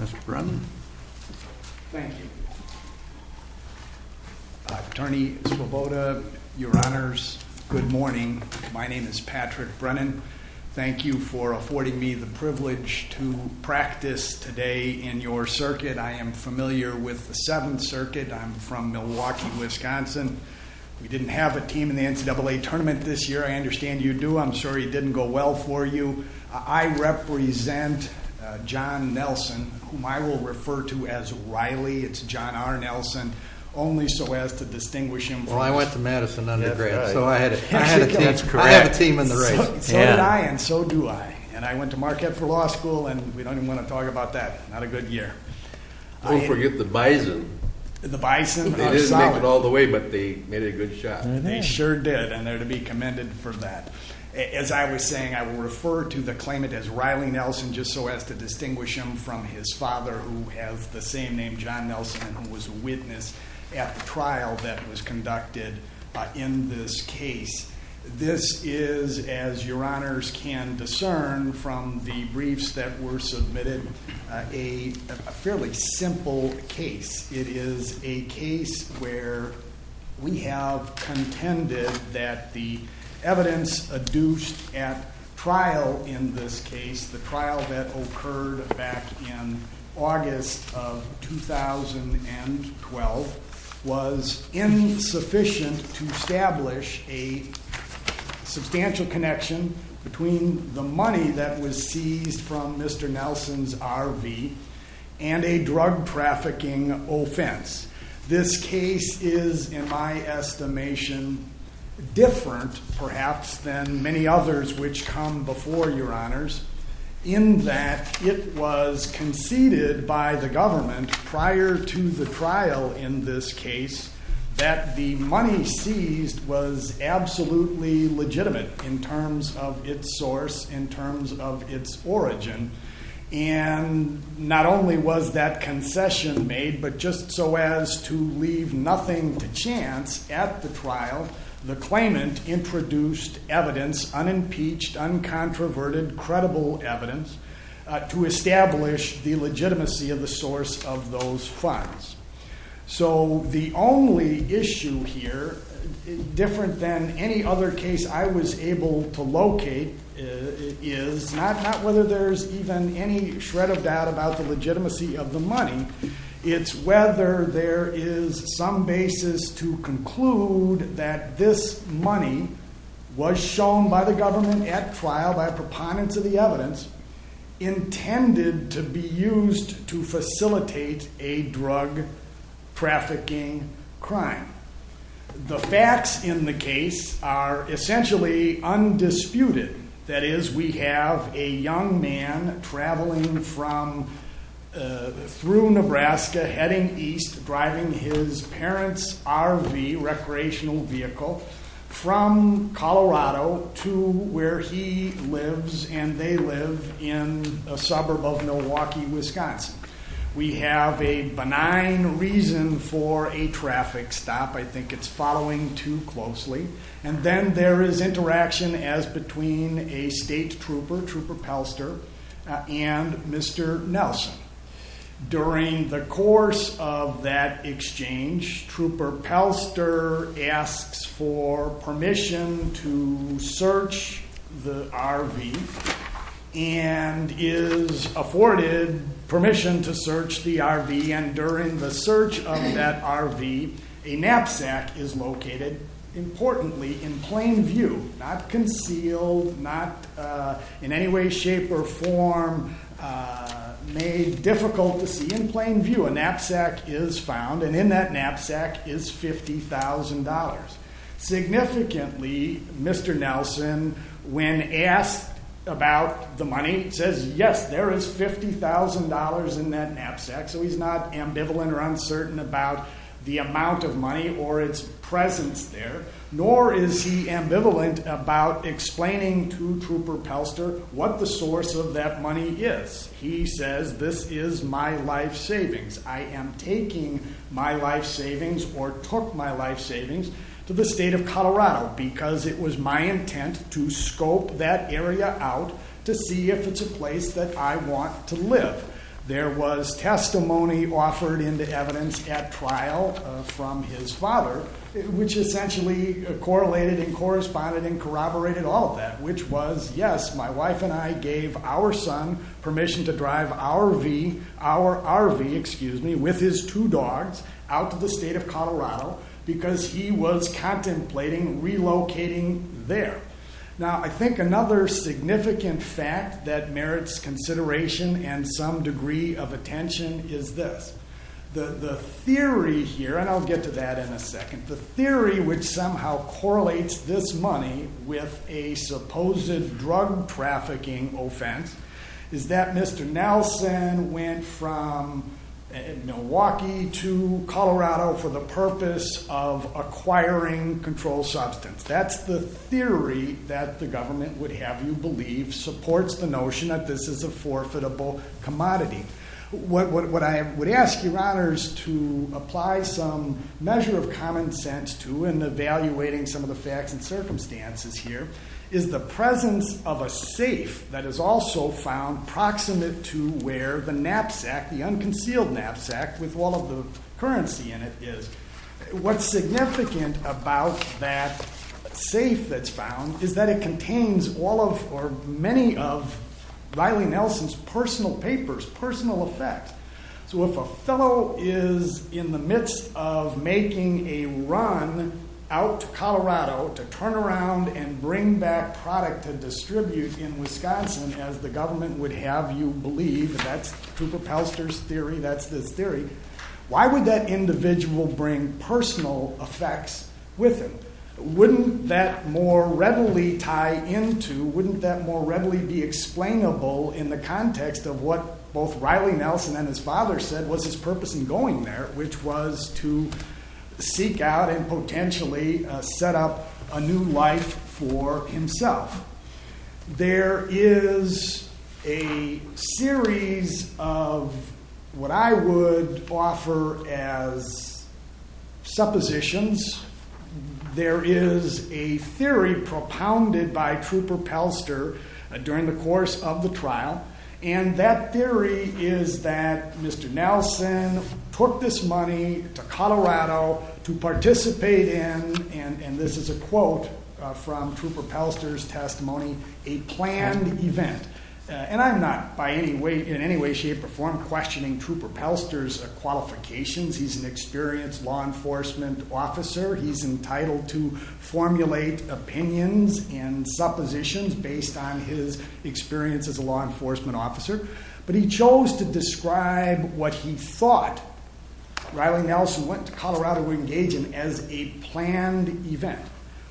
Mr. Brennan. Thank you. Attorney Svoboda, your honors, good morning. My name is Patrick Brennan. I'm familiar with the Seventh Circuit. I'm from Milwaukee, Wisconsin. We didn't have a team in the NCAA Tournament this year. I understand you do. I'm sorry it didn't go well for you. I represent John Nelson, whom I will refer to as Riley. It's John R. Nelson. Only so as to distinguish him from... Well, I went to Madison undergrad, so I had a team in the race. That's correct. So did I, and so do I. And I went to Marquette for about a good year. Don't forget the bison. The bison was solid. They didn't make it all the way, but they made a good shot. They sure did, and they're to be commended for that. As I was saying, I will refer to the claimant as Riley Nelson, just so as to distinguish him from his father, who has the same name, John Nelson, and was a witness at the trial that was conducted in this case. This is, as your honors can discern from the briefs that were submitted, a fairly simple case. It is a case where we have contended that the evidence adduced at trial in this case, the trial that occurred back in August of 2012, was insufficient to establish a substantial connection between the money that was seized from Mr. Nelson's RV and a drug trafficking offense. This case is, in my estimation, different perhaps than many others which come before your honors, in that it was conceded by the government prior to the trial in this case that the money seized was absolutely legitimate in terms of its source, in terms of its origin, and not only was that concession made, but just so as to leave nothing to chance at the trial, the claimant introduced evidence, unimpeached, uncontroverted, credible evidence, to establish the legitimacy of the source of those funds. So the only issue here, different than any other case I was able to locate, is not whether there's even any shred of doubt about the legitimacy of the money, it's whether there is some basis to conclude that this money was shown by the government at trial by proponents of the evidence, intended to be used to facilitate a drug trafficking crime. The facts in the case are essentially undisputed, that is, we have a young man traveling from, through Nebraska, heading east, driving his parents' RV, recreational vehicle, from Colorado to where he lives and they live in a suburb of Milwaukee, Wisconsin. We have a benign reason for a traffic stop, I think it's following too closely, and then there is interaction as between a state trooper, Trooper Pelster, and Mr. Nelson. During the course of that exchange, Trooper Pelster asks for permission to search the RV, and is afforded permission to search the RV, and during the search of that RV, a knapsack is located, importantly, in plain view, not concealed, not in any way, shape, or form, made difficult to see. In plain view, a knapsack is found, and in that knapsack is $50,000. Significantly, Mr. Nelson, when asked about the money, says yes, there is $50,000 in that knapsack, so he's not ambivalent or uncertain about the amount of money or its presence there, nor is he ambivalent about explaining to Trooper Pelster what the source of that money is. He says, this is my life savings. I am taking my life savings, or took my life savings, to the state of Colorado, because it was my intent to scope that area out to see if it's a place that I want to live. There was testimony offered into evidence at trial from his father, which essentially correlated and corresponded and corroborated all of that, which was, yes, my wife and I gave our son permission to drive our RV with his two dogs out to the state of Colorado because he was contemplating relocating there. Now, I think another significant fact that merits consideration and some degree of attention is this. The theory here, and I'll get to that in a second, the theory which somehow correlates this money with a supposed drug trafficking offense is that Mr. Nelson went from Milwaukee to Colorado for the purpose of acquiring controlled substance. That's the theory that the government would have you believe supports the notion that this is a forfeitable commodity. What I would ask your honors to apply some measure of common sense to in evaluating some of the facts and circumstances here is the presence of a safe that is also found proximate to where the knapsack, the unconcealed knapsack, with all of the currency in it is. What's significant about that safe that's found is that it contains all of or many of Riley Nelson's personal papers, personal effects. So, if a fellow is in the midst of making a run out to Colorado to turn around and bring back product to distribute in Wisconsin, as the government would have you believe, that's with him. Wouldn't that more readily tie into, wouldn't that more readily be explainable in the context of what both Riley Nelson and his father said was his purpose in going there, which was to seek out and potentially set up a new life for himself. There is a series of what I would offer as suppositions. There is a theory propounded by Trooper Pelster during the course of the trial, and that theory is that Mr. Nelson took this money to Colorado to participate in, and this is a quote from Trooper Pelster's testimony, a planned event. And I'm not in any way, shape, or form questioning Trooper Pelster's qualifications. He's an experienced law enforcement officer. He's entitled to formulate opinions and suppositions based on his experience as a law enforcement officer. But he chose to describe what he thought Riley Nelson went to Colorado to engage in as a planned event.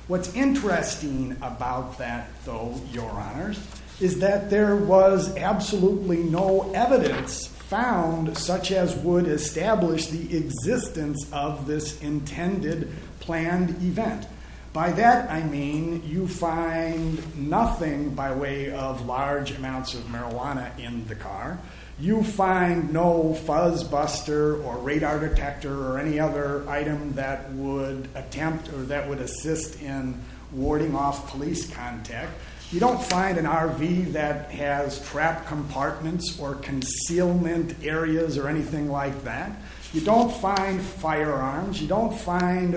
What's interesting about that though, your honors, is that there was absolutely no evidence found such as would establish the existence of this intended planned event. By that I mean you find nothing by way of large amounts of marijuana in the car. You find no fuzz buster or radar detector or any other item that would attempt or that would assist in warding off police contact. You don't find an RV that has trap compartments or concealment areas or anything like that. You don't find firearms. You don't find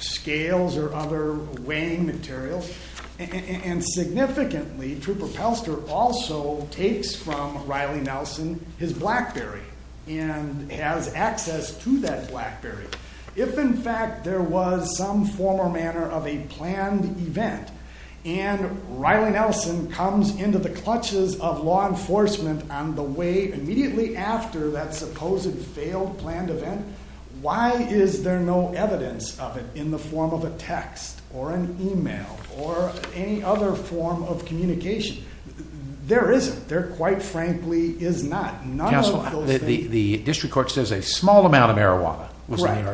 scales or other weighing materials. And significantly Trooper Pelster also takes from Riley Nelson his Blackberry and has access to that event. And Riley Nelson comes into the clutches of law enforcement on the way immediately after that supposed failed planned event. Why is there no evidence of it in the form of a text or an email or any other form of communication? There isn't. There quite frankly is not. The district court says a small amount of marijuana was in the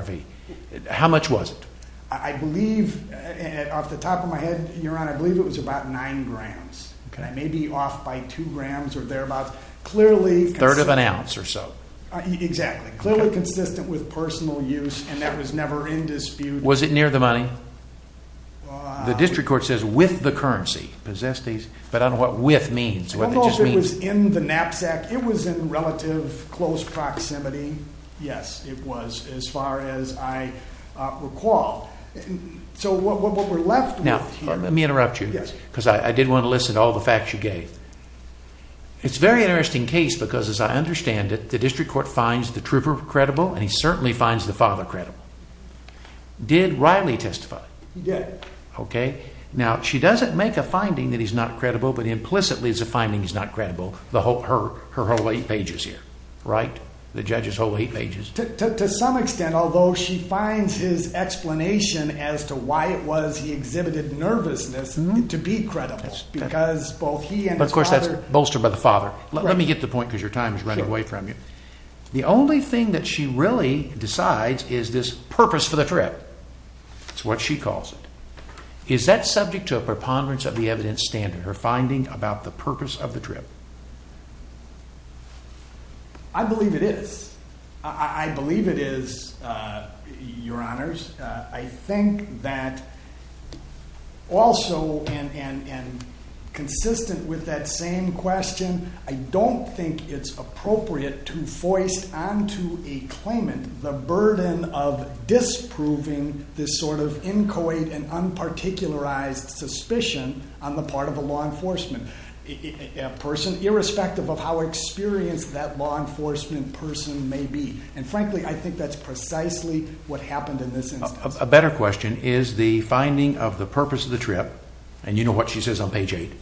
RV. How much was it? I believe off the top of my head, your honor, I believe it was about nine grams. Maybe off by two grams or thereabouts. Clearly a third of an ounce or so. Exactly. Clearly consistent with personal use and that was never in dispute. Was it near the money? The district court says with the currency. But I don't know what with means. It was in the knapsack. It was in relative close proximity. Yes, it was as far as I recall. So what we're left now, let me interrupt you because I did want to listen to all the facts you gave. It's very interesting case because as I understand it, the district court finds the trooper credible and he certainly finds the father credible. Did Riley testify? He did. Okay, now she doesn't make a finding that he's not credible, but implicitly the finding is not credible. The whole her her whole eight pages here, right? The judge's to some extent, although she finds his explanation as to why it was he exhibited nervousness to be credible because both he and of course that's bolstered by the father. Let me get the point because your time is running away from you. The only thing that she really decides is this purpose for the trip. It's what she calls it. Is that subject to a preponderance of the evidence finding about the purpose of the trip? I believe it is. I believe it is your honors. I think that also and consistent with that same question, I don't think it's appropriate to voice onto a claimant the burden of disproving this sort of inchoate and unparticularized suspicion on the part of a law enforcement person, irrespective of how experienced that law enforcement person may be. And frankly, I think that's precisely what happened in this instance. A better question is the finding of the purpose of the trip and you know what she says on page eight.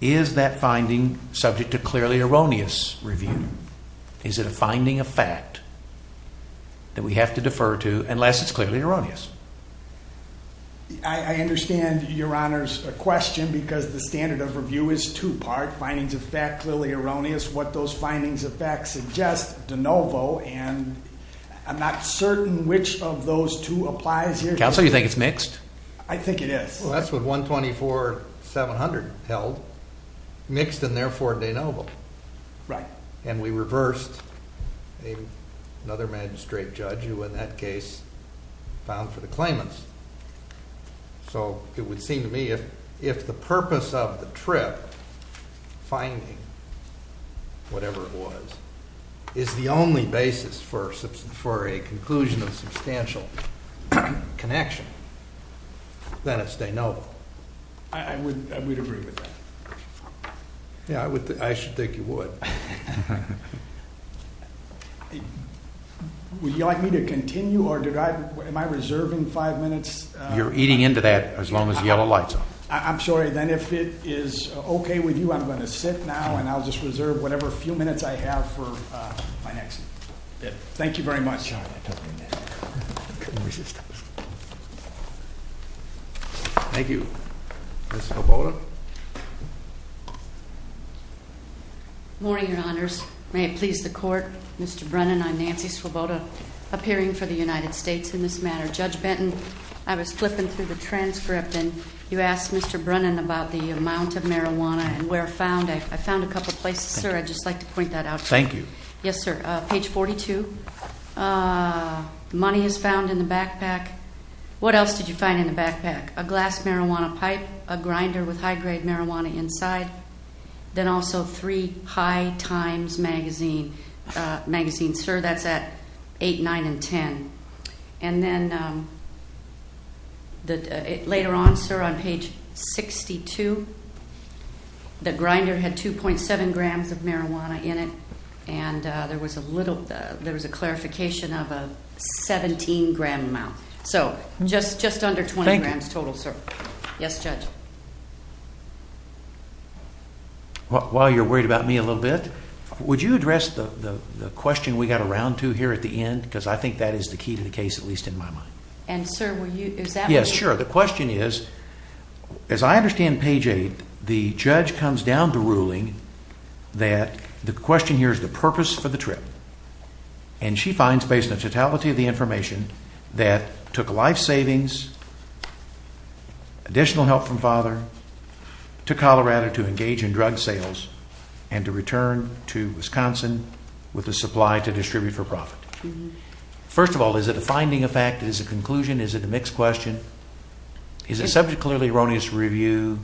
Is that finding subject to clearly erroneous review? Is it a finding of fact that we have to defer to unless it's clearly erroneous? I understand your honors a question because the standard of review is two part findings of fact clearly erroneous. What those findings of facts suggest de novo and I'm not certain which of those two applies here. Counsel, you think it's mixed? I think it is. Well that's what 124 700 held mixed and therefore de novo. Right. And we reversed another magistrate judge who in that case found for the claimants. So it would seem to me if, if the purpose of the trip finding whatever it was is the only basis for for a conclusion of substantial connection, then it's de novo. I would, I would agree with that. Yeah, I would, I should think you would. Okay. Would you like me to continue or did I, am I reserving five minutes? You're eating into that as long as yellow lights on. I'm sorry. Then if it is okay with you, I'm going to sit now and I'll just reserve whatever few minutes I have for my next bit. Thank you very much. Thank you. Ms. Swoboda. Morning, your honors. May it please the court, Mr. Brennan, I'm Nancy Swoboda appearing for the United States in this matter. Judge Benton, I was flipping through the transcript and you asked Mr. Brennan about the amount of marijuana and where found. I found a couple places, sir. I'd just like to point that out. Thank you. Yes, sir. Page 42, money is found in backpack, a glass marijuana pipe, a grinder with high grade marijuana inside. Then also three high times magazine, sir, that's at 8, 9, and 10. And then later on, sir, on page 62, the grinder had 2.7 grams of marijuana in it and there was a little, there was a clarification of a 17 gram amount. So just under 20 grams total, sir. Yes, judge. While you're worried about me a little bit, would you address the question we got around to here at the end? Because I think that is the key to the case, at least in my mind. And sir, will you, is that- Yes, sure. The question is, as I understand page eight, the judge comes down to ruling that the question here is the purpose for the trip. And she finds based on totality of the information that took life savings, additional help from father, to Colorado to engage in drug sales and to return to Wisconsin with a supply to distribute for profit. First of all, is it a finding of fact? Is it a conclusion? Is it a mixed question? Is it subject clearly erroneous review?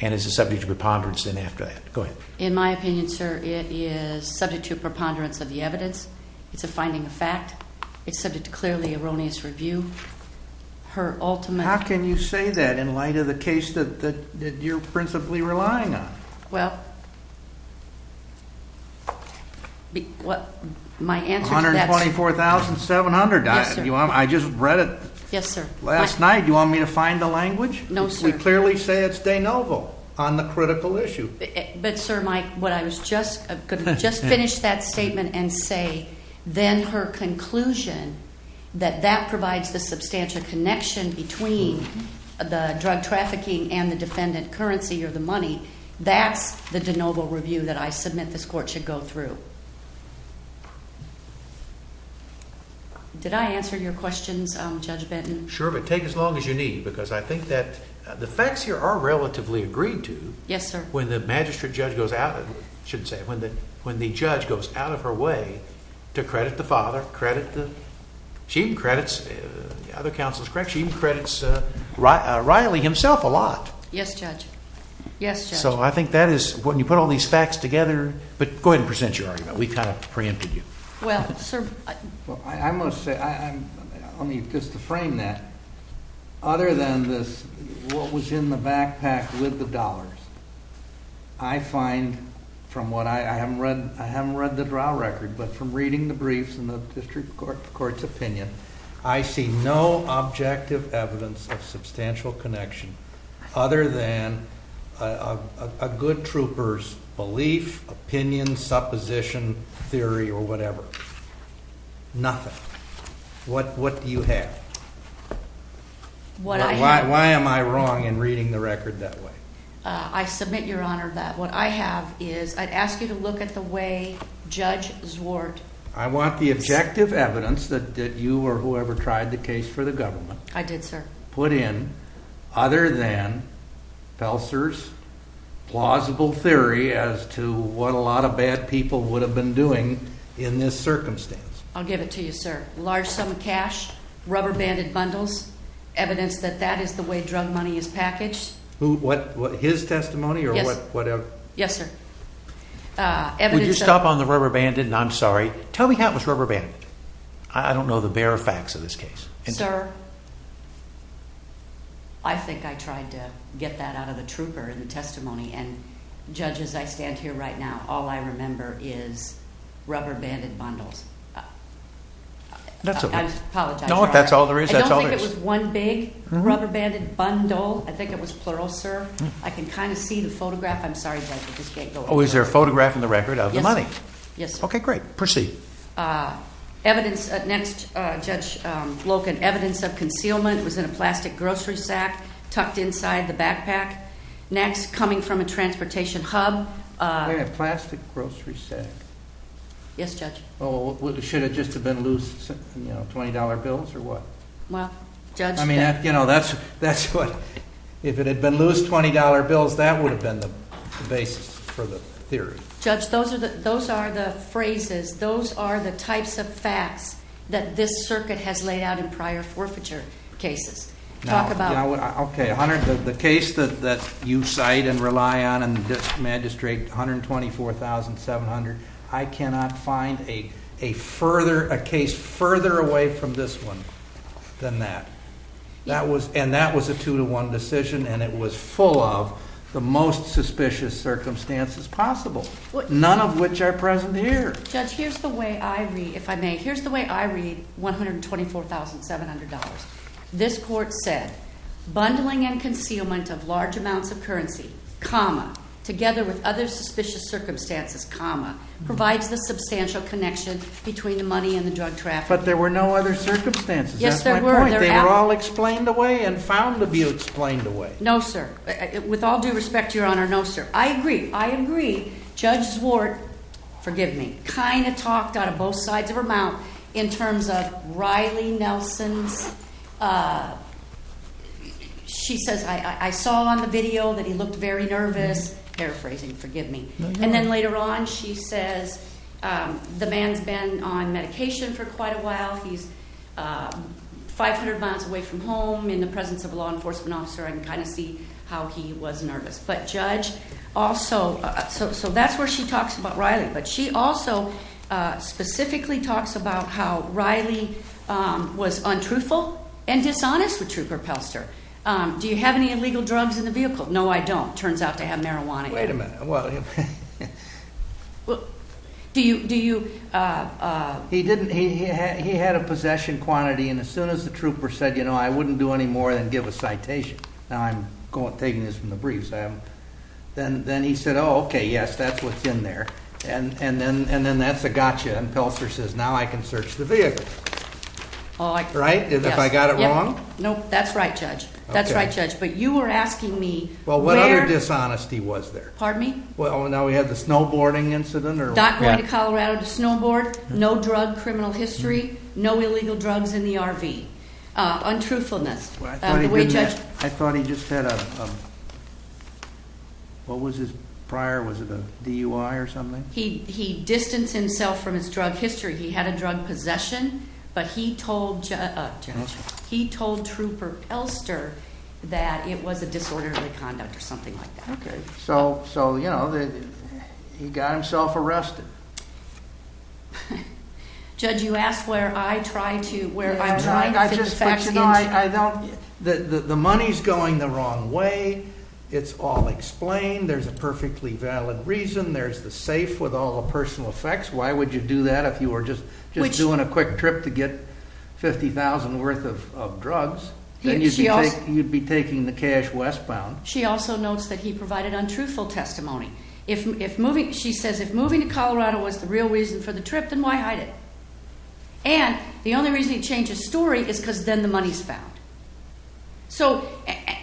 And is it subject to preponderance and after that? Go ahead. In my opinion, sir, it is subject to preponderance of the evidence. It's a finding of fact. It's subject to clearly erroneous review. Her ultimate- How can you say that in light of the case that you're principally relying on? Well, my answer to that- 124,700, I just read it- Yes, sir. Last night. You want me to find the language? No, sir. We clearly say it's de novo on the critical issue. But, sir, what I was just going to just finish that statement and say, then her conclusion that that provides the substantial connection between the drug trafficking and the defendant currency or the money, that's the de novo review that I submit this court should go through. Did I answer your questions, Judge Benton? Sure, but take as long as you need, because I think that the facts here are relatively agreed to- Yes, sir. When the magistrate judge goes out, shouldn't say it, when the judge goes out of her way to credit the father, credit the- She even credits, the other counsel is correct, she even credits Riley himself a lot. Yes, Judge. Yes, Judge. So I think that is, when you put all these facts together, but go ahead and present your argument. We kind of preempted you. Well, sir- I must say, let me just frame that. Other than this, what was in the backpack with the dollars, I find from what I haven't read, I haven't read the trial record, but from reading the briefs and the district court's opinion, I see no objective evidence of substantial connection other than a good trooper's belief, opinion, supposition, theory, or whatever. Nothing. What do you have? Why am I wrong in reading the record that way? I submit your honor that what I have is, I'd ask you to look at the way Judge Zwart- I want the objective evidence that you or whoever tried the case for the government- I did, sir. Put in, other than Felser's plausible theory as to what a lot of bad people would have been doing in this circumstance. I'll give it to you, sir. Large sum of cash, rubber banded bundles, evidence that that is the way drug money is packaged. Who, what, his testimony or whatever? Yes, sir. Would you stop on the rubber banded, and I'm sorry, tell me how it was rubber banded. I don't know the bare facts of this case. Sir, I think I tried to get that out of the trooper in the testimony, and all I remember is rubber banded bundles. I apologize. No, that's all there is. I don't think it was one big rubber banded bundle. I think it was plural, sir. I can kind of see the photograph. I'm sorry, Judge, I just can't go over it. Oh, is there a photograph in the record of the money? Yes, sir. Okay, great. Proceed. Next, Judge Loken, evidence of concealment. It was in a plastic grocery sack, tucked inside the backpack. Next, coming from a transportation hub. In a plastic grocery sack? Yes, Judge. Oh, should it just have been loose $20 bills or what? Well, Judge- I mean, if it had been loose $20 bills, that would have been the basis for the theory. Judge, those are the phrases, those are the types of facts that this circuit has laid out in prior forfeiture cases. Now, okay, the case that you cite and rely on in this magistrate, 124,700, I cannot find a case further away from this one than that. And that was a two to one decision and it was full of the most suspicious circumstances possible, none of which are present here. Judge, here's the way I read, if I may, here's the way I read $124,700. This court said, bundling and concealment of large amounts of currency, comma, together with other suspicious circumstances, comma, provides the substantial connection between the money and the drug traffic. But there were no other circumstances, that's my point. They were all explained away and found to be explained away. No, sir. With all due respect, Your Honor, no, sir. I agree. I agree. Judge Zwart, forgive me, kind of talked out of both sides of her mouth in terms of Riley Nelson's, she says, I saw on the video that he looked very nervous. Paraphrasing, forgive me. And then later on, she says, the man's been on medication for quite a while. He's 500 miles away from home in the presence of a law enforcement officer. I can kind of see how he was nervous. But Judge also, so that's where she talks about Riley. But she also specifically talks about how Riley was untruthful and dishonest with Trooper Pelster. Do you have any illegal drugs in the vehicle? No, I don't. Turns out to have marijuana. Wait a minute. Do you, do you? He didn't, he had a possession quantity. And as soon as the trooper said, you know, I wouldn't do any more than give a citation. Now I'm going, taking this from the briefs. Then he said, oh, okay, yes, that's what's in there. And, and then, and then that's a gotcha. And Pelster says, now I can search the vehicle. Right. If I got it wrong. Nope. That's right, Judge. That's right, Judge. But you were asking me. Well, what other dishonesty was there? Pardon me? Well, now we have the snowboarding incident or. Not going to Colorado to snowboard. No drug criminal history. No illegal drugs in the RV. Untruthfulness. I thought he just had a, what was his prior? Was it a DUI or something? He, he distanced himself from his drug history. He had a drug possession, but he told, Judge, he told Trooper Elster that it was a disorderly conduct or something like that. Okay. So, so, you know, he got himself arrested. Judge, you asked where I try to, where I'm trying to. I just, you know, I, I don't, the, the, the money's going the wrong way. It's all explained. There's a perfectly valid reason. There's the safe with all the personal effects. Why would you do that? If you were just doing a quick trip to get 50,000 worth of drugs, then you'd be taking the cash westbound. She also notes that he provided untruthful testimony. If, if moving, she says, if moving to Colorado was the real reason for the trip, then why hide it? And the only reason he changed his story is because then the money's found. So,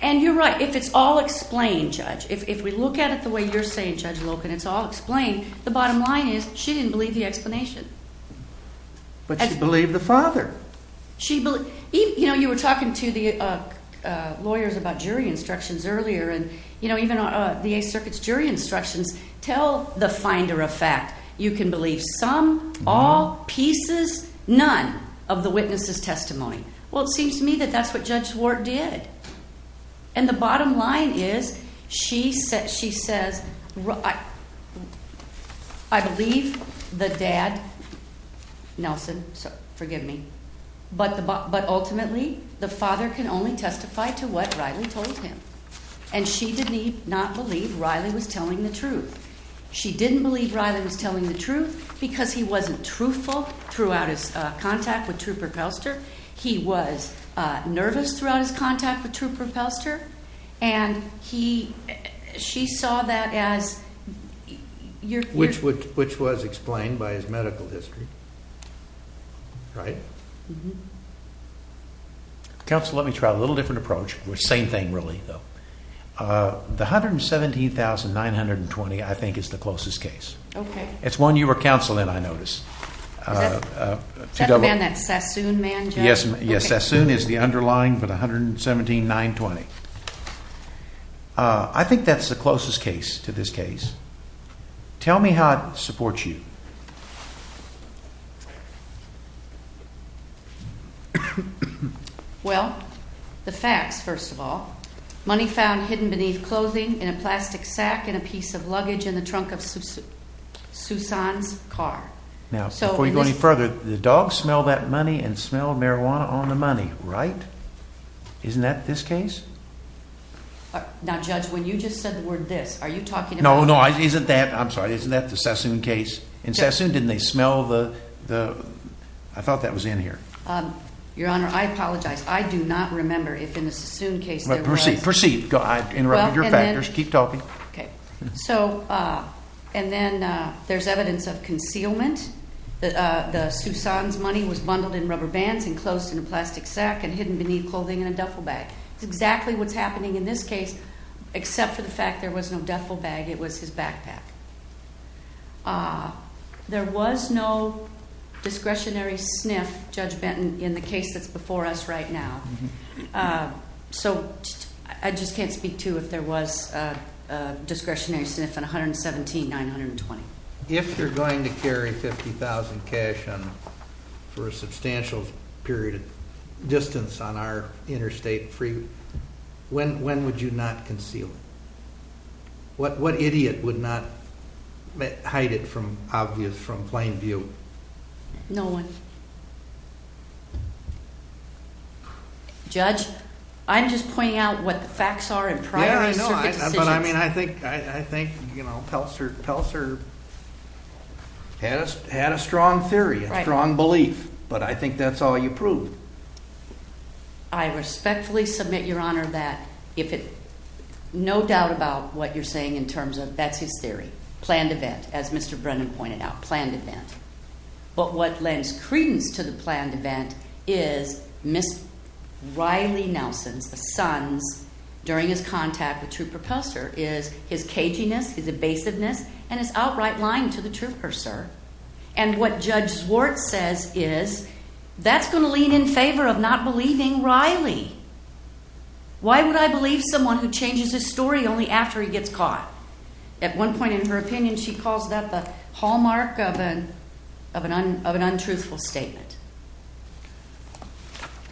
and you're right. If it's all explained, Judge, if, if we look at it the way you're saying, Judge Loken, it's all explained. The bottom line is she didn't believe the explanation. But she believed the father. She believed, you know, you were talking to the, uh, uh, lawyers about jury instructions earlier, and, you know, even, uh, the Eighth Circuit's jury instructions tell the finder of fact. You can believe some, all, pieces, none of the witness's testimony. Well, it seems to me that that's what Judge Ward did. And the bottom line is she said, she says, I believe the dad, Nelson, so forgive me, but the, but ultimately the father can only testify to what Riley told him. And she did not believe Riley was telling the truth. She didn't believe Riley was telling the truth because he wasn't truthful throughout his, uh, contact with Trooper Pelster. He was, uh, nervous throughout his contact with Trooper Pelster. And he, she saw that as your... Which would, which was explained by his medical history. Right? Counsel, let me try a little different approach. Same thing, really, though. Uh, the $117,920, I think is the closest case. Okay. It's one you were counseling, I noticed. Uh, uh, two... Is that the man, that Sassoon man, Judge? Yes. Yes. Sassoon is the underlying for the $117,920. Uh, I think that's the closest case to this case. Tell me how it supports you. Well, the facts, first of all, money found hidden beneath clothing in a plastic sack and a piece of luggage in the trunk of Susan's car. Now, before we go any further, the dog smelled that money and smelled marijuana on the money, right? Isn't that this case? Now, Judge, when you just said the word this, are you talking about... No, no, isn't that, I'm sorry, isn't that the Sassoon case? In Sassoon, didn't they smell the, the... I thought that was in here. Um, Your Honor, I apologize. I do not remember if in the Sassoon case there was... Proceed, proceed. I interrupted your factors. Keep talking. Okay. So, uh, and then, uh, there's evidence of concealment. The, uh, the Susan's money was bundled in rubber bands, enclosed in a plastic sack, and hidden beneath clothing in a duffel bag. It's exactly what's happening in this case, except for the fact there was no duffel bag. It was his backpack. Uh, there was no discretionary sniff, Judge Benton, in the case that's before us right now. Uh, so, I just can't speak to if there was a, a discretionary sniff on 117-920. If you're going to carry 50,000 cash on, for a substantial period of distance on our interstate free, when, when would you not conceal it? What, what idiot would not hide it from obvious, from plain view? No one. Judge, I'm just pointing out what the facts are and priorities. Yeah, I know. But I mean, I think, I think, you know, Pelser, Pelser had a, had a strong theory, a strong belief. But I think that's all you proved. I respectfully submit, Your Honor, that if it, no doubt about what you're saying in terms of, that's his theory. Planned event, as Mr. Brennan pointed out, planned event. But what lends credence to the planned event is Ms. Riley Nelson's, son's, during his contact with Trooper Pelser, is his caginess, his evasiveness, and his outright lying to the Trooper, sir. And what Judge Zwart says is, that's going to lean in favor of not believing Riley. Why would I believe someone who changes his story only after he gets caught? At one point in her opinion, she calls that the hallmark of an, of an, of an untruthful statement.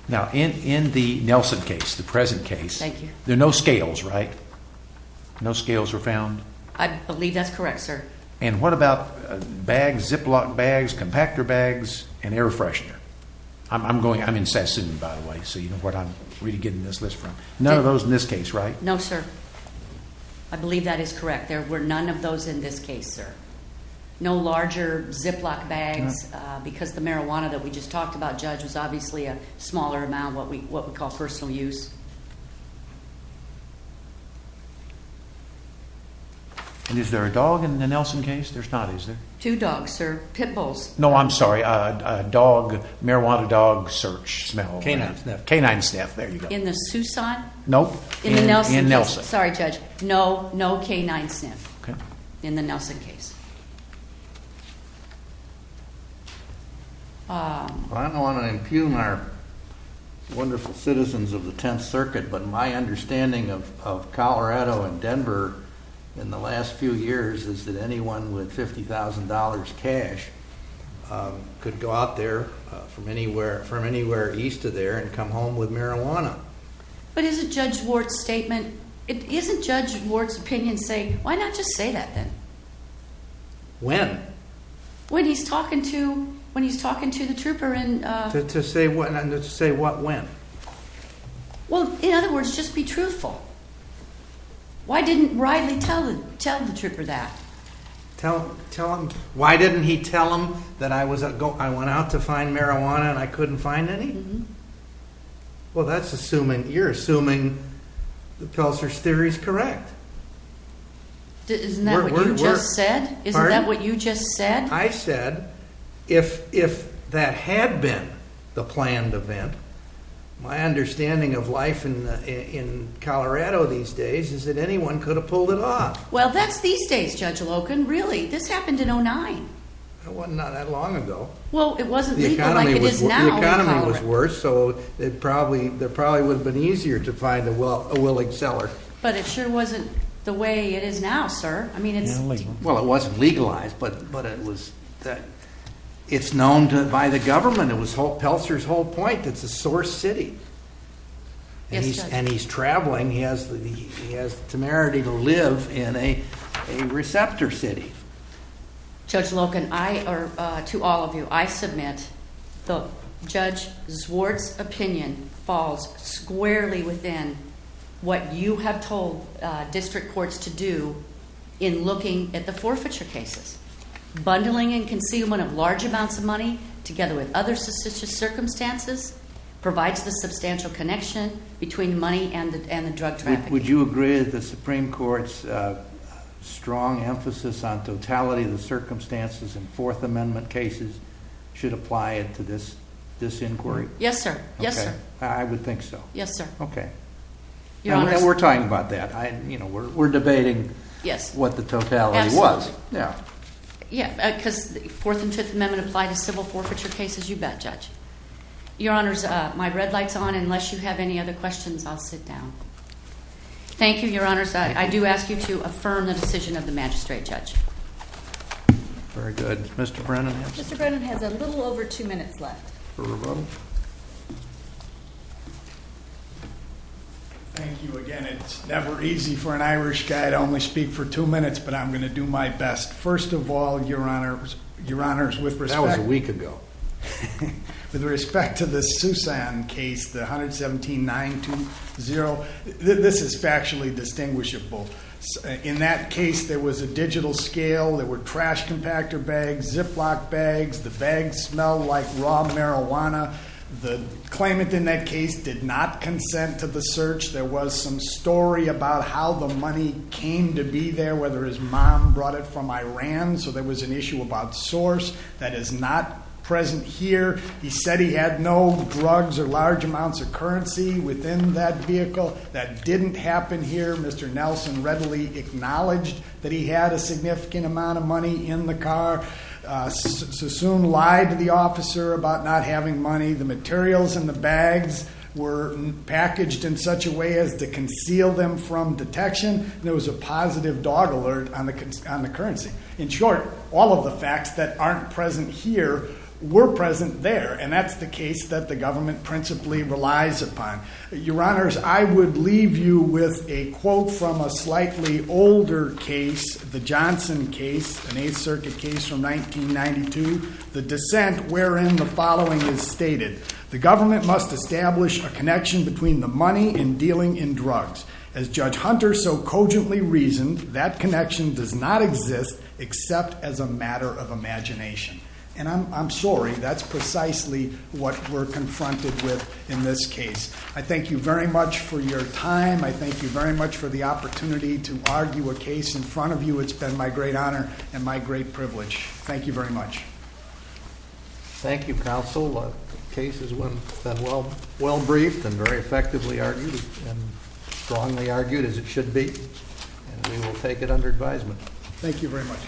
Now, in, in the Nelson case, the present case. Thank you. There are no scales, right? No scales were found? I believe that's correct, sir. And what about bags, Ziploc bags, compactor bags, and air freshener? I'm, I'm going, I'm in Sassoon, by the way, so you know what I'm really getting this list from. None of those in this case, right? No, sir. I believe that is correct. There were none of those in this case, sir. No larger Ziploc bags, because the marijuana that we just talked about, Judge, was obviously a smaller amount, what we, what we call personal use. And is there a dog in the Nelson case? There's not, is there? Two dogs, sir. Pitbulls. No, I'm sorry. A, a dog, marijuana dog, search, smell. Canine sniff. Canine sniff, there you go. In the Soussant? Nope. In the Nelson case. In Nelson. Sorry, Judge. No, no canine sniff. Okay. In the Nelson case. I don't want to impugn our wonderful citizens of the Tenth Circuit, but my understanding of Colorado and Denver in the last few years is that anyone with $50,000 cash could go out there from anywhere, from anywhere east of there and come home with marijuana. But isn't Judge Ward's statement, isn't Judge Ward's opinion saying, why not just say that then? When? When he's talking to, when he's talking to the trooper and, uh. To say what, to say what when? Well, in other words, just be truthful. Why didn't Riley tell the, tell the trooper that? Tell, tell him, why didn't he tell him that I was, I went out to find marijuana and I couldn't find any? Well, that's assuming, you're assuming the Pelser's theory is correct. Isn't that what you just said? Pardon? Isn't that what you just said? I said, if, if that had been the planned event, my understanding of life in, in Colorado these days is that anyone could have pulled it off. Well, that's these days, Judge Loken, really. This happened in 09. It was not that long ago. Well, it wasn't legal like it is now. The economy was worse. So it probably, there probably would have been easier to find a well, a willing seller. But it sure wasn't the way it is now, sir. I mean, it's. Well, it wasn't legalized, but, but it was that it's known to, by the government. It was Pelser's whole point. That's a source city. And he's traveling. He has the, he has the temerity to live in a, a receptor city. Judge Loken, I are to all of you. I submit the Judge Zwart's opinion falls squarely within what you have told district courts to do in looking at the forfeiture cases. Bundling and concealment of large amounts of money together with other circumstances provides the substantial connection between money and the, and the drug traffic. Would you agree that the Supreme Court's strong emphasis on totality of the circumstances in Fourth Amendment cases should apply it to this, this inquiry? Yes, sir. Yes, sir. I would think so. Yes, sir. Okay. And we're talking about that. I, you know, we're, we're debating. Yes. What the totality was. Yeah. Yeah. Because the Fourth and Fifth Amendment apply to civil forfeiture cases. You bet, Judge. Your Honors, my red light's on. Unless you have any other questions, I'll sit down. Thank you, Your Honors. I do ask you to affirm the decision of the Magistrate Judge. Very good. Is Mr. Brennan here? Mr. Brennan has a little over two minutes left. Thank you again. It's never easy for an Irish guy to only speak for two minutes, but I'm going to do my best. First of all, Your Honors, Your Honors, with respect. That was a week ago. With respect to the Susan case, the 117-920, this is factually distinguishable. In that case, there was a digital scale. There were trash compactor bags, Ziploc bags. The bags smelled like raw marijuana. The claimant in that case did not consent to the search. There was some story about how the money came to be there, whether his mom brought it from Iran. There was an issue about source that is not present here. He said he had no drugs or large amounts of currency within that vehicle. That didn't happen here. Mr. Nelson readily acknowledged that he had a significant amount of money in the car. Sassoon lied to the officer about not having money. The materials in the bags were packaged in such a way as to conceal them from detection. There was a positive dog alert on the currency. In short, all of the facts that aren't present here were present there, and that's the case that the government principally relies upon. Your Honors, I would leave you with a quote from a slightly older case, the Johnson case, an Eighth Circuit case from 1992. The dissent wherein the following is stated. The government must establish a connection between the money and dealing in drugs. As Judge Hunter so cogently reasoned, that connection does not exist except as a matter of imagination. And I'm sorry, that's precisely what we're confronted with in this case. I thank you very much for your time. I thank you very much for the opportunity to argue a case in front of you. It's been my great honor and my great privilege. Thank you very much. Thank you, Counsel. The case has been well briefed and very effectively argued, and strongly argued, as it should be. And we will take it under advisement. Thank you very much.